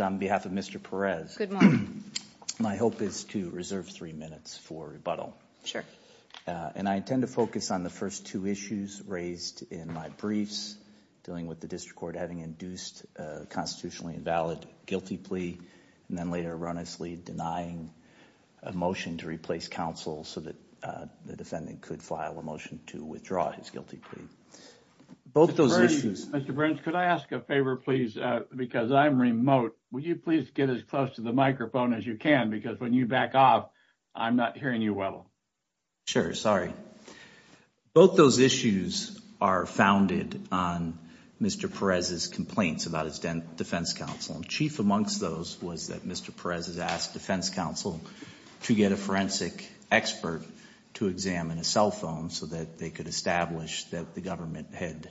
on behalf of Mr. Perez. My hope is to reserve three minutes for rebuttal. Sure. And I intend to focus on the first two issues raised in my briefs dealing with the district court having induced a constitutionally invalid guilty plea and then later erroneously denying a motion to replace counsel so that the defendant could file a motion to withdraw his guilty plea. Both those issues. Mr. Burns, could I ask a favor, please? Because I'm remote. Would you please get as close to the microphone as you can? Because when you back off, I'm not hearing you well. Sure. Sorry. Both those issues are founded on Mr. Perez's complaints about his defense counsel. Chief amongst those was that Mr. Perez has asked defense counsel to get a forensic expert to examine a cell phone so that they could establish that the government had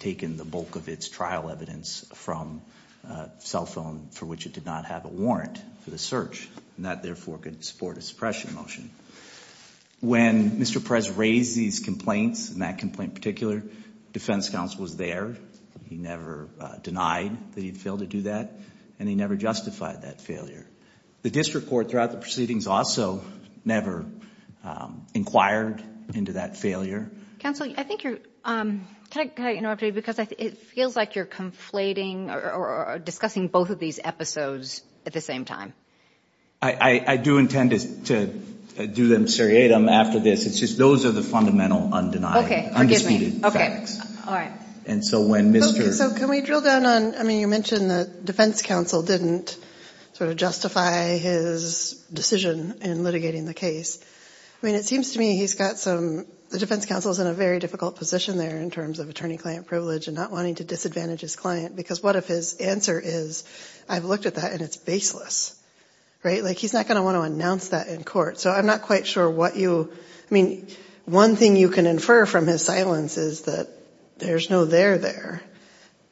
taken the bulk of its trial evidence from a cell phone for which it did not have a warrant for the search and that therefore could support a suppression motion. When Mr. Perez raised these complaints, and that complaint in particular, defense counsel was there. He never denied that he'd failed to do that and he never justified that failure. The district court throughout the proceedings also never inquired into that failure. Counsel, I think you're, can I interrupt you? Because it feels like you're conflating or discussing both of these episodes at the same time. I do intend to do them seriatim after this. It's just those are the fundamental undeniable, undisputed facts. Okay. All right. And so when Mr. So can we drill down on, I mean, you mentioned that defense counsel didn't sort of justify his decision in litigating the case. I mean, it seems to me he's got some, the defense counsel is in a very difficult position there in terms of attorney-client privilege and not wanting to disadvantage his client because what if his answer is, I've looked at that and it's baseless, right? Like he's not going to want to announce that in court. So I'm not quite sure what you, I mean, one thing you can infer from his silence is that there's no there there.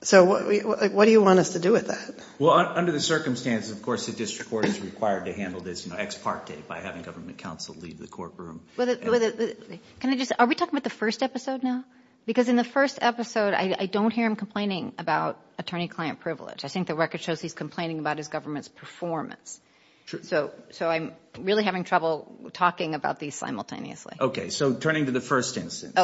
So what do you want us to do with that? Well, under the circumstances, of course, the district court is required to handle this ex parte by having government counsel leave the courtroom. Can I just, are we talking about the first episode now? Because in the first episode, I don't hear him complaining about attorney-client privilege. I think the record shows he's complaining about his government's performance. So I'm really having trouble talking about these simultaneously. Okay. So turning to the first instance,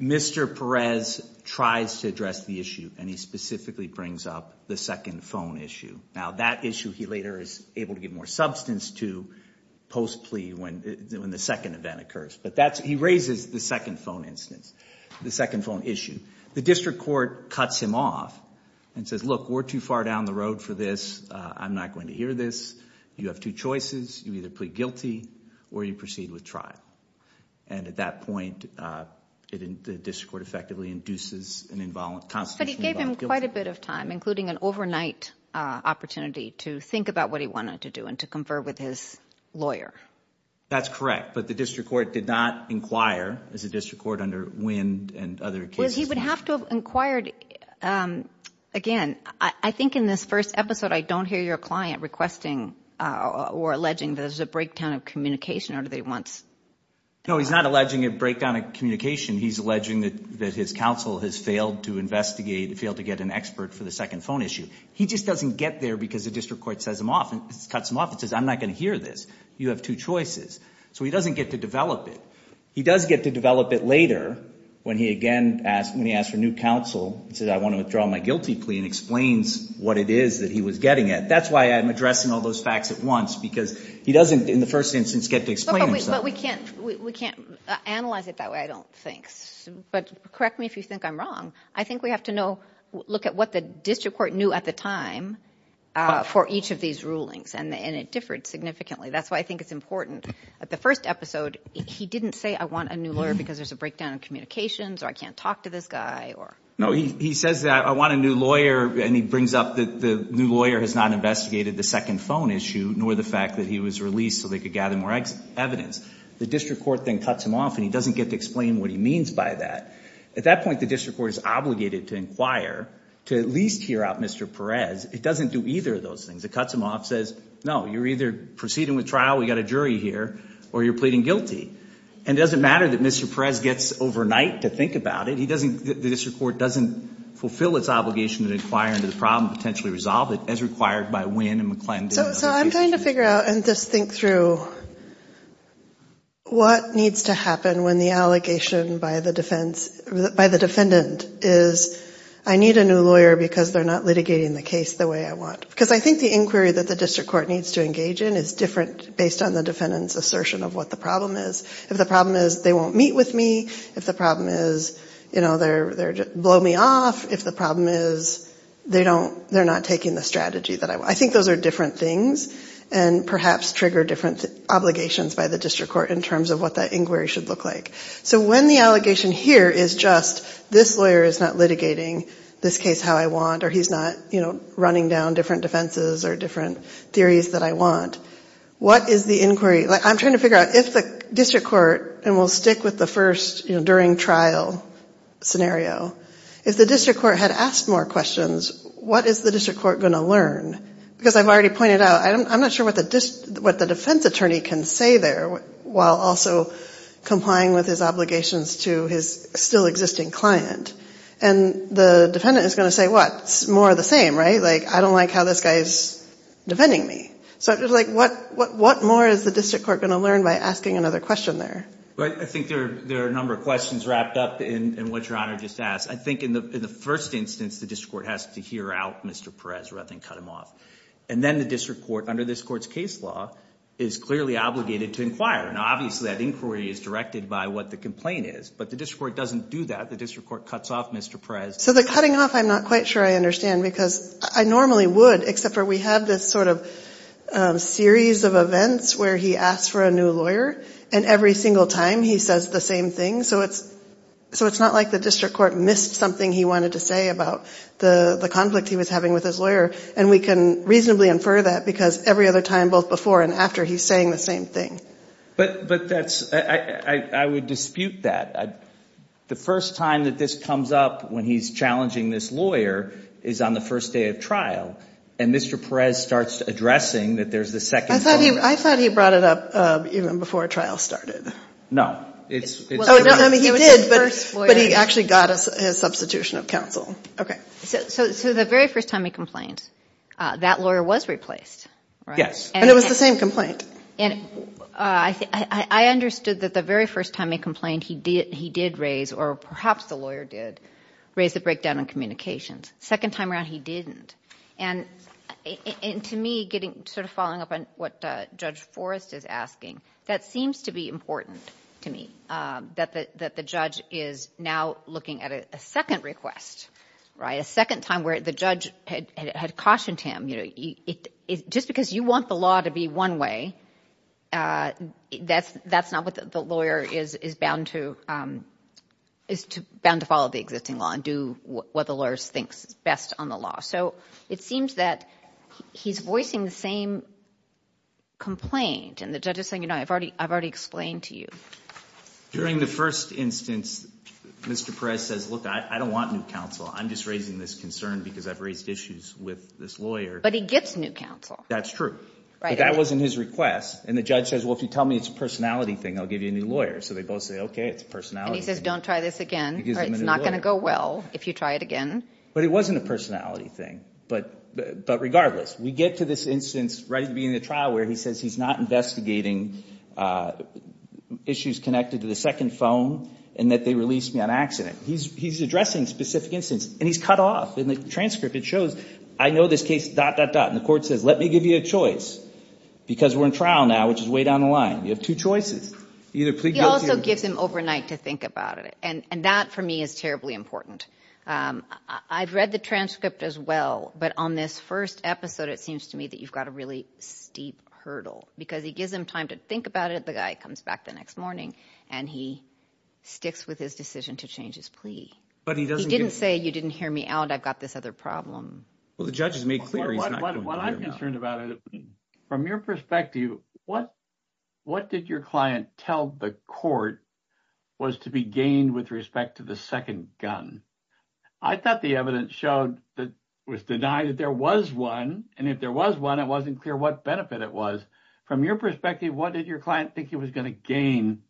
Mr. Perez tries to address the issue and he specifically brings up the second phone issue. Now that issue he later is able to give more substance to post plea when the second event occurs. But that's, he raises the second phone instance, the second phone issue. The district court cuts him off and says, look, we're too far down the road for this. I'm not going to hear this. You have two choices. You either plead guilty or you proceed with trial. And at that point, the district court effectively induces an involuntary. But he gave him quite a bit of time, including an overnight opportunity to think about what he wanted to do and to confer with his lawyer. That's correct. But the district court did not inquire as a district court under wind and other cases. He would have to have inquired. Again, I think in this first episode, I don't hear your client requesting or alleging that there's a breakdown of communication or do they want. No, he's not alleging a breakdown of communication. He's alleging that his counsel has failed to investigate, failed to get an expert for the second phone issue. He just doesn't get there because the district court cuts him off and says, I'm not going to hear this. You have two choices. So he doesn't get to develop it. He does get to develop it later when he again asked, when he asked for new counsel and said, I want to withdraw my guilty plea and explains what it is that he was getting at. That's why I'm addressing all those facts at once because he doesn't, in the first instance, get to explain. But we can't, we can't analyze it that way, I don't think. But correct me if you think I'm wrong. I think we have to know, look at what the district court knew at the time for each of these rulings. And it differed significantly. That's why I think it's important at the first episode, he didn't say, I want a new lawyer because there's a breakdown of communications or I can't talk to this guy or. No, he says that I want a new lawyer. And he brings up that the new lawyer has not investigated the second phone issue, nor the fact that he was released so they could gather more evidence. The district court then cuts him off and he doesn't get to explain what he means by that. At that point, the district court is obligated to inquire to at least hear out Mr. Perez. It doesn't do either of those things. It cuts him off, says, no, you're either proceeding with trial, we got a jury here, or you're pleading guilty. And it doesn't matter that Mr. Perez gets overnight to think about it. He doesn't, the district court doesn't fulfill its obligation to inquire into the problem, potentially resolve it as required by Winn and McClellan. So I'm trying to figure out and just think through what needs to happen when the allegation by the defendant is, I need a new lawyer because they're not litigating the case the way I want. Because I think the inquiry that the district court needs to engage in is different based on the defendant's assertion of what the problem is. If the problem is they won't meet with me, if the problem is, you know, they'll blow me off, if the problem is they don't, they're not taking the strategy that I want. I think those are different things and perhaps trigger different obligations by the district court in terms of what that inquiry should look like. So when the allegation here is just this lawyer is not litigating this case how I want or he's not, you know, running down different defenses or different theories that I want, what is the inquiry? I'm trying to figure out if the district court, and we'll stick with the first during trial scenario, if the district court had asked more questions, what is the district court going to learn? Because I've already pointed out, I'm not sure what the defense attorney can say there while also complying with his obligations to his still existing client. And the defendant is going to say what? It's more of the same, right? Like, I don't like how this guy is defending me. So it's like what more is the I think there are a number of questions wrapped up in what your honor just asked. I think in the first instance, the district court has to hear out Mr. Perez rather than cut him off. And then the district court, under this court's case law, is clearly obligated to inquire. Now, obviously that inquiry is directed by what the complaint is, but the district court doesn't do that. The district court cuts off Mr. Perez. So the cutting off, I'm not quite sure I understand because I normally would, except for we have this sort of series of events where he asks for a new time. He says the same thing. So it's not like the district court missed something he wanted to say about the conflict he was having with his lawyer. And we can reasonably infer that because every other time, both before and after, he's saying the same thing. But I would dispute that. The first time that this comes up when he's challenging this lawyer is on the first day of trial. And Mr. Perez starts addressing that there's the second time. I thought he brought it up even before a trial started. No. He did, but he actually got his substitution of counsel. Okay. So the very first time he complained, that lawyer was replaced, right? Yes. And it was the same complaint. I understood that the very first time he complained, he did raise, or perhaps the lawyer did, raise the breakdown in communications. Second time around, he didn't. And to me, sort of following up on what Judge Forrest is asking, that seems to be important to me, that the judge is now looking at a second request, right? A second time where the judge had cautioned him, just because you want the law to be one way, that's not what the lawyer is bound to, is bound to follow the existing law and do what the lawyer thinks is best on the law. So it seems that he's voicing the same complaint. And the judge is saying, you know, I've already explained to you. During the first instance, Mr. Perez says, look, I don't want new counsel. I'm just raising this concern because I've raised issues with this lawyer. But he gets new counsel. That's true. But that wasn't his request. And the judge says, well, if you tell me it's a personality thing, I'll give you a new lawyer. So they both say, OK, it's a personality thing. And he says, don't try this again. It's not going to go well if you try it again. But it wasn't a personality thing. But regardless, we get to this instance right at the beginning of the trial where he says he's not investigating issues connected to the second phone and that they released me on accident. He's addressing specific instances. And he's cut off. In the transcript, it shows, I know this case, dot, dot, dot. And the court says, let me give you a choice because we're in trial now, which is way down the line. You have two choices. He also gives him overnight to think about it. And that, for me, is terribly important. I've read the transcript as well. But on this first episode, it seems to me that you've got a really steep hurdle because he gives him time to think about it. The guy comes back the next morning and he sticks with his decision to change his plea. But he didn't say you didn't hear me out. I've got this other problem. Well, the judges make clear what I'm concerned about. From your perspective, what what did your client tell the court was to be gained with respect to the second gun? I thought the evidence showed that was denied that there was one. And if there was one, it wasn't clear what benefit it was. From your perspective, what did your client think he was going to gain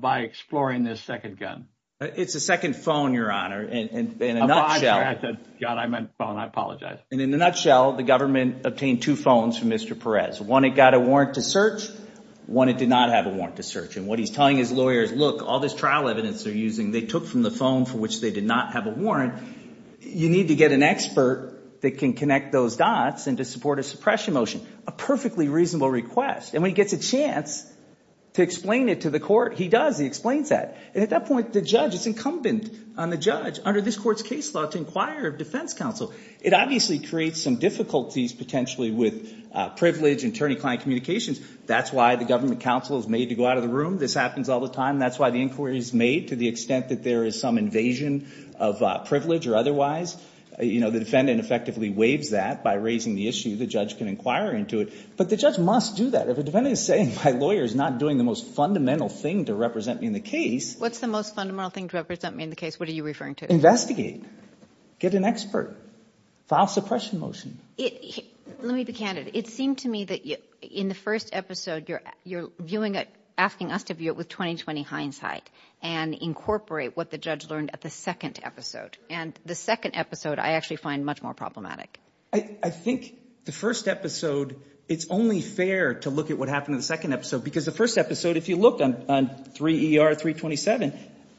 by exploring this second gun? It's a second phone, Your Honor. And in a nutshell, I apologize. And in a nutshell, the government obtained two phones from Mr. Perez. One, it got a warrant to search. One, it did not have a warrant to search. And what he's telling his lawyers, look, all this trial evidence they're using, they took from the phone for which they did not have a warrant. You need to get an expert that can connect those dots and to support a suppression motion, a perfectly reasonable request. And when he gets a chance to explain it to the court, he does. He explains that. And at that point, the judge is incumbent on the judge under this court's case law to inquire of defense counsel. It obviously creates some difficulties potentially with privilege and attorney-client communications. That's why the government counsel is made to go out of the room. This happens all the time. That's why the inquiry is made to the extent that there is some invasion of privilege or otherwise. The defendant effectively waives that by raising the issue. The judge can inquire into it. But the judge must do that. If a defendant is saying my lawyer is not doing the most fundamental thing to represent me in the case. What's the most fundamental thing to represent me in the case? What are you referring to? Investigate. Get an expert. File suppression motion. Let me be candid. It seemed to me that in the first episode, you're viewing it, asking us to view it with 20-20 hindsight and incorporate what the judge learned at the second episode. And the second episode, I actually find much more problematic. I think the first episode, it's only fair to look at what happened in the second episode. Because the first episode, if you look on 3ER 327,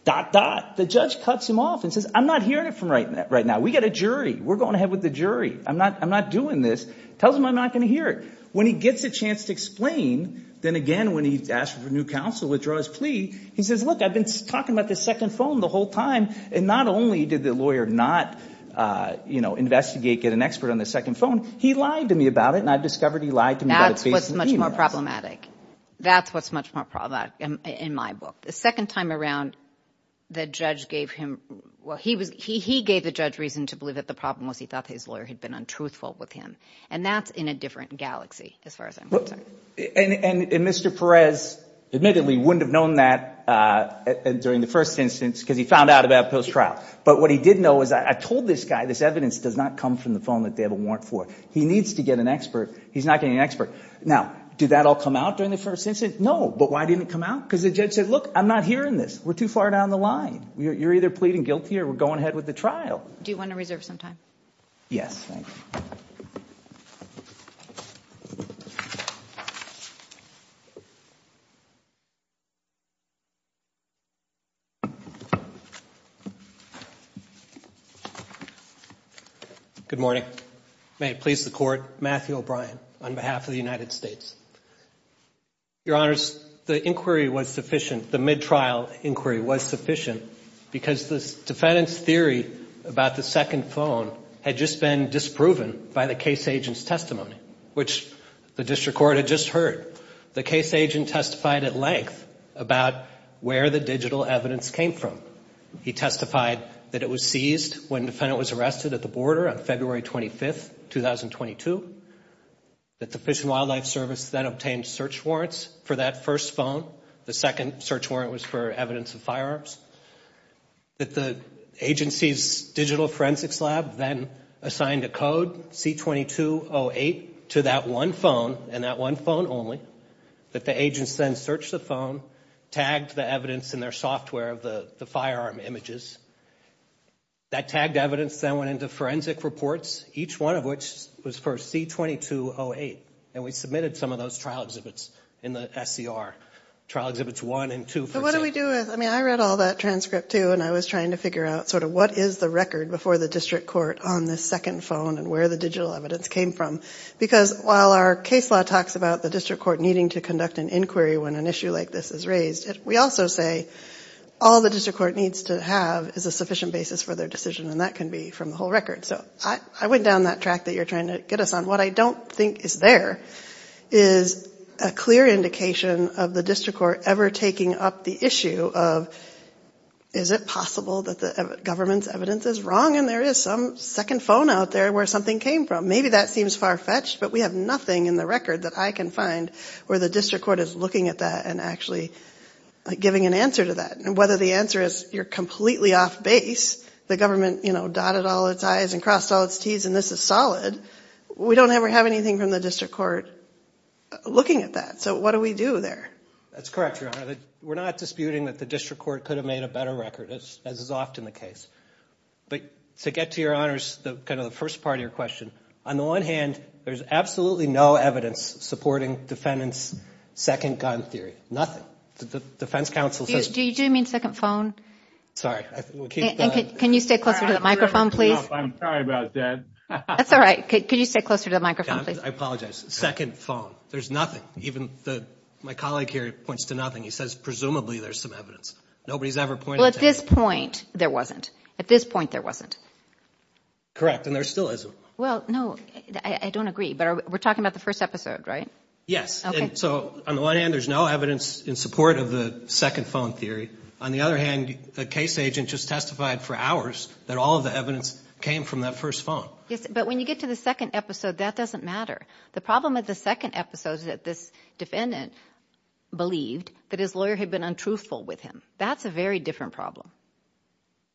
dot, dot, the judge cuts him off and says I'm not hearing it from right now. We've got a jury. We're going ahead with the jury. I'm not doing this. Tells him I'm not going to hear it. When he gets a chance to explain, then again, when he asks for new counsel to withdraw his plea, he says look, I've been talking about this second phone the whole time. And not only did the lawyer not investigate, get an expert on the second phone, he lied to me about it. And I've discovered he lied to me about it. That's what's much more problematic. That's what's much more problematic. In my book. The second time around, the judge gave him, well, he gave the judge reason to believe that the problem was he thought his lawyer had been untruthful with him. And that's in a different galaxy as far as I'm concerned. And Mr. Perez admittedly wouldn't have known that during the first instance because he found out about it post-trial. But what he did know is I told this guy this evidence does not come from the phone that they have a warrant for. He needs to get an expert. He's not getting an expert. Now, did that all come out during the first instance? No. But why didn't it come out? Because the judge said, look, I'm not hearing this. We're too far down the line. You're either pleading guilty or we're going ahead with the trial. Do you want to reserve some time? Yes. Good morning. May it please the court. Matthew O'Brien on behalf of the United States Fish and Wildlife Service. The inquiry was sufficient. The mid-trial inquiry was sufficient because the defendant's theory about the second phone had just been disproven by the case agent's testimony, which the district court had just heard. The case agent testified at length about where the digital evidence came from. He testified that it was seized when the defendant was arrested at the border on February 25th, 2022. The Fish and Wildlife Service then obtained search warrants for that first phone. The second search warrant was for evidence of firearms. That the agency's digital forensics lab then assigned a code, C2208, to that one phone and that one phone only. That the agents then searched the phone, tagged the evidence in their software of the firearm images. That tagged evidence then went into forensic reports, each one of which was for C2208. We submitted some of those trial exhibits in the SCR, trial exhibits one and two. But what do we do with, I mean I read all that transcript too and I was trying to figure out sort of what is the record before the district court on this second phone and where the digital evidence came from. Because while our case law talks about the district court needing to conduct an inquiry when an issue like this is raised, we also say all the district court needs to have is a sufficient basis for their decision and that can be from the whole record. So I went down that track that you're trying to get us on. What I don't think is there is a clear indication of the district court ever taking up the issue of is it possible that the government's evidence is wrong and there is some second phone out there where something came from. Maybe that seems far-fetched but we have nothing in the record that I can find where the district court is looking at that and actually giving an answer to that. And whether the answer is you're completely off base, the government dotted all its I's and crossed all its T's and this is solid, we don't ever have anything from the district court looking at that. So what do we do there? That's correct, Your Honor. We're not disputing that the district court could have made a better record as is often the case. But to get to Your Honors, kind of the first part of your question, on the one hand there's absolutely no evidence supporting defendants' second gun theory. Nothing. The defense counsel... Do you stay closer to the microphone, please? I'm sorry about that. That's all right. Could you stay closer to the microphone, please? I apologize. Second phone. There's nothing. Even my colleague here points to nothing. He says presumably there's some evidence. Nobody's ever pointed to anything. Well, at this point there wasn't. At this point there wasn't. Correct. And there still isn't. Well, no, I don't agree. But we're talking about the first episode, right? Yes. So on the one hand there's no evidence in support of the second phone theory. On the other hand, the case agent just testified for hours that all of the evidence came from that first phone. Yes, but when you get to the second episode, that doesn't matter. The problem with the second episode is that this defendant believed that his lawyer had been untruthful with him. That's a very different problem.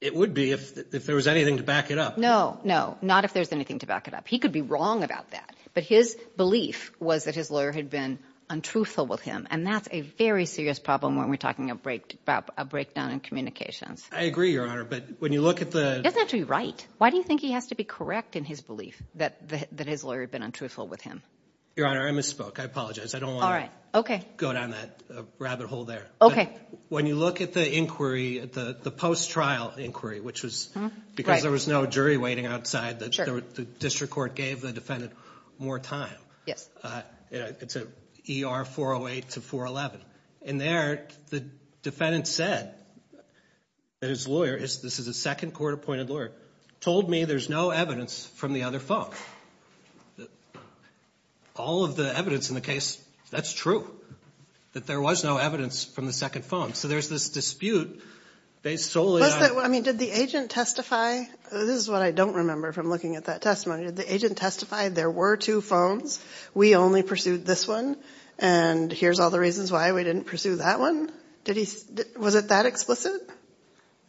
It would be if there was anything to back it up. No, no. Not if there's anything to back it up. He could be wrong about that. But his belief was that his lawyer had been untruthful with him. And that's a very serious problem when we're talking about a breakdown in communications. I agree, Your Honor, but when you look at the... It doesn't have to be right. Why do you think he has to be correct in his belief that his lawyer had been untruthful with him? Your Honor, I misspoke. I apologize. I don't want to go down that rabbit hole there. Okay. When you look at the inquiry, the post-trial inquiry, which was because there was no jury waiting outside, the district court gave the defendant more time. Yes. It's an ER 408 to 411. And there, the defendant said that his lawyer, this is a second court-appointed lawyer, told me there's no evidence from the other phone. All of the evidence in the case, that's true, that there was no evidence from the second phone. So there's this dispute based solely on... I mean, did the agent testify? This is what I don't There were two phones. We only pursued this one. And here's all the reasons why we didn't pursue that one. Was it that explicit?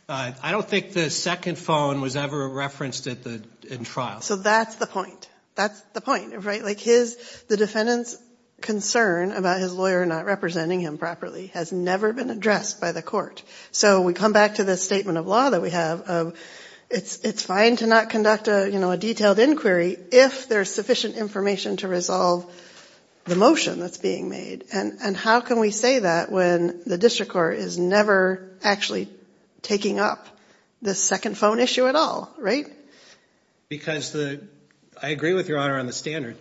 I don't think the second phone was ever referenced in trial. So that's the point. That's the point, right? The defendant's concern about his lawyer not representing him properly has never been addressed by the court. So we come back to this statement of that we have of it's fine to not conduct a detailed inquiry if there's sufficient information to resolve the motion that's being made. And how can we say that when the district court is never actually taking up this second phone issue at all, right? Because I agree with your honor on the standard.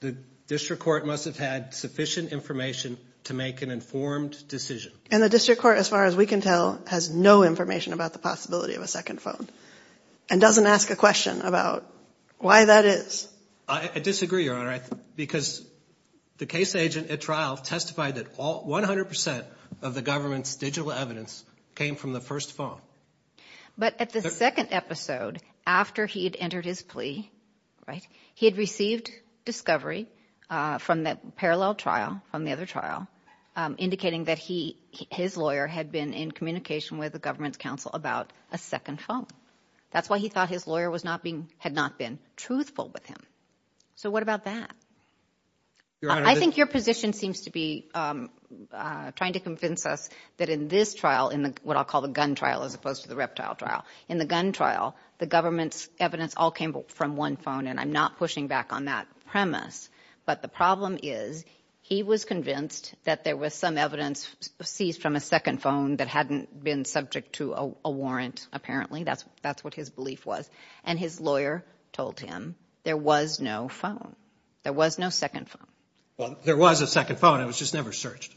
The district court must have had sufficient information to make an informed decision. And the district court, as far as we can tell, has no information about the possibility of a second phone and doesn't ask a question about why that is. I disagree, your honor, because the case agent at trial testified that all 100 of the government's digital evidence came from the first phone. But at the second episode, after he had entered his plea, right, he had received discovery from parallel trial, from the other trial, indicating that his lawyer had been in communication with the government's counsel about a second phone. That's why he thought his lawyer had not been truthful with him. So what about that? I think your position seems to be trying to convince us that in this trial, in what I'll call the gun trial as opposed to the reptile trial, in the gun trial, the government's evidence all came from one phone and I'm not pushing back on that premise. But the problem is he was convinced that there was some evidence seized from a second phone that hadn't been subject to a warrant, apparently. That's what his belief was. And his lawyer told him there was no phone. There was no second phone. Well, there was a second phone. It was just never searched.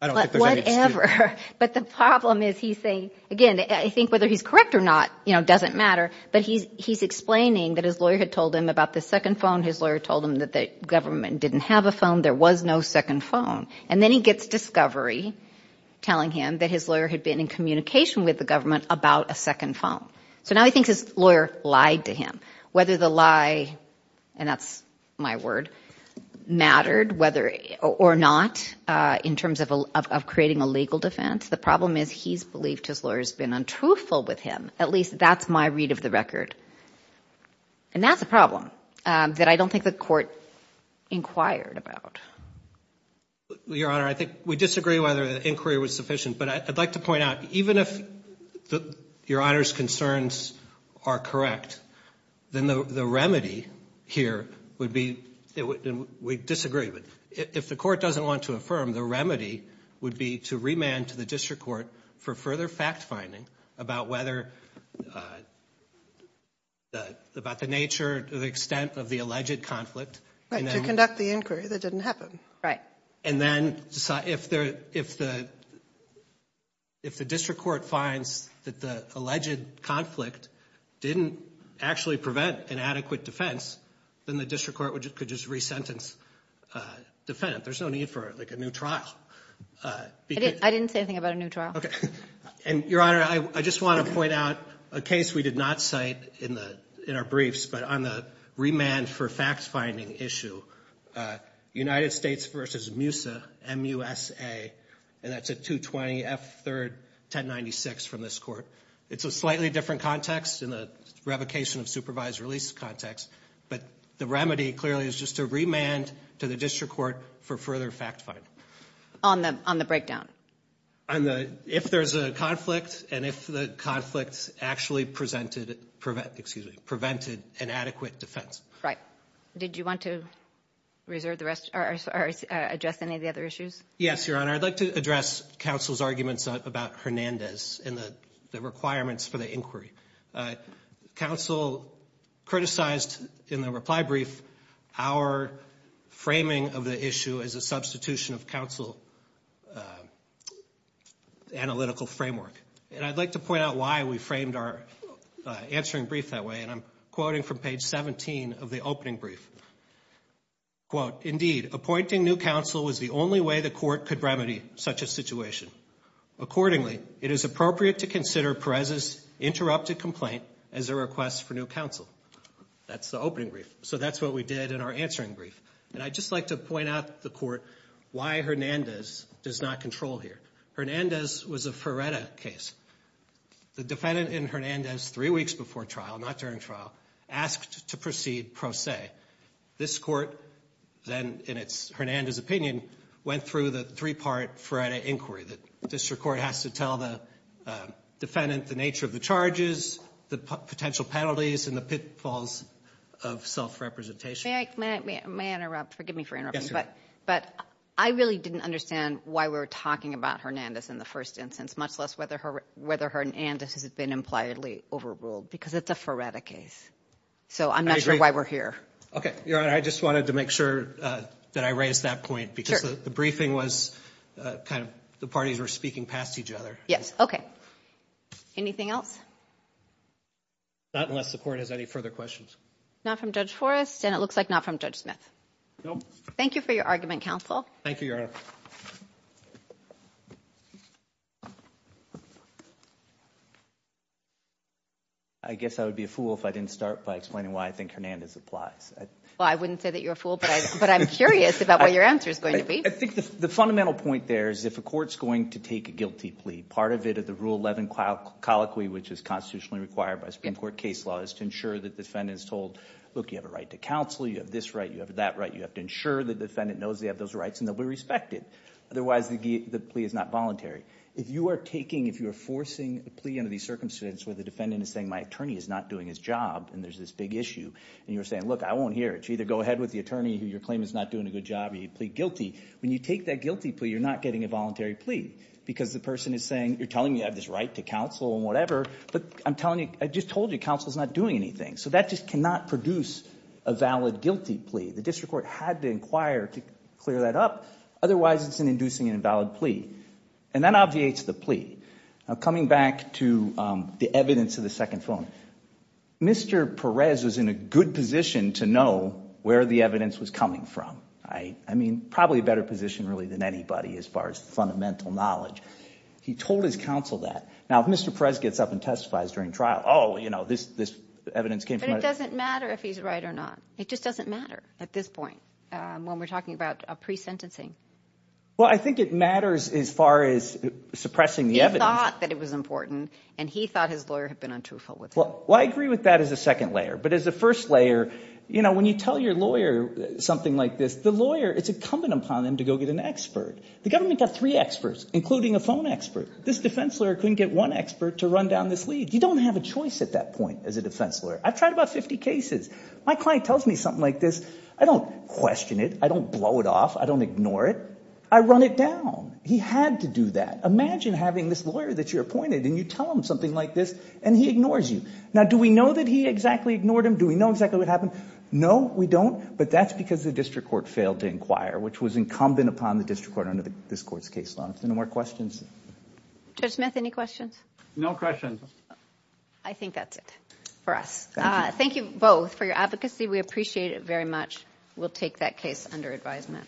I don't think there's any excuse. Whatever. But the problem is he's saying, again, I think whether he's correct or not, you know, doesn't matter. But he's explaining that his lawyer had told him about the second phone. His lawyer told him that the government didn't have a phone. There was no second phone. And then he gets discovery telling him that his lawyer had been in communication with the government about a second phone. So now he thinks his lawyer lied to him. Whether the lie, and that's my word, mattered whether or not in terms of creating a legal defense. The problem is he's believed his lawyer has been untruthful with him. At least that's my record. And that's a problem that I don't think the court inquired about. Your Honor, I think we disagree whether the inquiry was sufficient. But I'd like to point out, even if Your Honor's concerns are correct, then the remedy here would be, we disagree, if the court doesn't want to affirm, the remedy would be to remand to the district court for further fact finding about whether, about the nature, the extent of the alleged conflict. Right, to conduct the inquiry that didn't happen. Right. And then if the district court finds that the alleged conflict didn't actually prevent an adequate defense, then the district court could just re-sentence the defendant. There's no need for like a new trial. I didn't say anything about a new trial. And Your Honor, I just want to point out a case we did not cite in our briefs, but on the remand for fact finding issue, United States v. MUSA, M-U-S-A, and that's a 220 F3rd 1096 from this court. It's a slightly different context in the revocation of supervised release context, but the remedy clearly is just to remand to the district court for further fact finding. On the breakdown? On the, if there's a conflict and if the conflict actually presented, prevent, excuse me, prevented an adequate defense. Right. Did you want to reserve the rest or address any of the other issues? Yes, Your Honor. I'd like to address counsel's arguments about Hernandez and the requirements for the inquiry. Counsel criticized in the reply brief our framing of the issue as a analytical framework. And I'd like to point out why we framed our answering brief that way. And I'm quoting from page 17 of the opening brief. Quote, indeed, appointing new counsel was the only way the court could remedy such a situation. Accordingly, it is appropriate to consider Perez's interrupted complaint as a request for new counsel. That's the opening brief. So that's what we did in our answering brief. And I'd just like to point out to the court why Hernandez does not control here. Hernandez was a Ferreta case. The defendant in Hernandez three weeks before trial, not during trial, asked to proceed pro se. This court then, in its, Hernandez opinion, went through the three-part Ferreta inquiry that district court has to tell the defendant the nature of the charges, the potential penalties, and the pitfalls of self-representation. May I, may I interrupt? Forgive me for interrupting. But I really didn't understand why we were talking about Hernandez in the first instance, much less whether Hernandez has been impliedly overruled, because it's a Ferreta case. So I'm not sure why we're here. Okay. Your Honor, I just wanted to make sure that I raised that point because the briefing was kind of, the parties were speaking past each other. Yes. Okay. Anything else? Not unless the court has any further questions. Not from Judge Forrest, and it looks like not from Judge Smith. Nope. Thank you for your argument, counsel. Thank you, Your Honor. I guess I would be a fool if I didn't start by explaining why I think Hernandez applies. Well, I wouldn't say that you're a fool, but I'm curious about what your answer is going to be. I think the fundamental point there is if a court's going to take a guilty plea, part of it of the Rule 11 colloquy, which is constitutionally required by Supreme Court case law, is to ensure the defendant is told, look, you have a right to counsel, you have this right, you have that right, you have to ensure the defendant knows they have those rights and they'll be respected. Otherwise, the plea is not voluntary. If you are taking, if you are forcing a plea under these circumstances where the defendant is saying, my attorney is not doing his job, and there's this big issue, and you're saying, look, I won't hear it. You either go ahead with the attorney who you're claiming is not doing a good job or you plead guilty. When you take that guilty plea, you're not getting a voluntary plea because the person is saying, you're telling me I have this right to counsel and whatever, but I'm telling you, I just told you counsel's not doing anything. So that just cannot produce a valid guilty plea. The district court had to inquire to clear that up. Otherwise, it's inducing an invalid plea. And that obviates the plea. Coming back to the evidence of the second phone, Mr. Perez was in a good position to know where the evidence was coming from. I mean, probably a better position really than anybody as far as the fundamental knowledge. He told his counsel that. Now, if Mr. Perez gets up and testifies during trial, oh, you know, this evidence came from that. But it doesn't matter if he's right or not. It just doesn't matter at this point when we're talking about a pre-sentencing. Well, I think it matters as far as suppressing the evidence. He thought that it was important, and he thought his lawyer had been untruthful with him. Well, I agree with that as a second layer. But as a first layer, you know, when you tell your lawyer something like this, the lawyer, it's incumbent upon them to go get an expert. The government got three experts, including a phone expert. This defense lawyer couldn't get one expert to run down this lead. You don't have a choice at that point as a defense lawyer. I've tried about 50 cases. My client tells me something like this. I don't question it. I don't blow it off. I don't ignore it. I run it down. He had to do that. Imagine having this lawyer that you're appointed, and you tell him something like this, and he ignores you. Now, do we know that he exactly ignored him? Do we know exactly what happened? No, we don't. But that's because the district court failed to inquire, which was incumbent upon the district court under this court's case law. Any more questions? Judge Smith, any questions? No questions. I think that's it for us. Thank you both for your advocacy. We appreciate it very much. We'll take that case under advisement.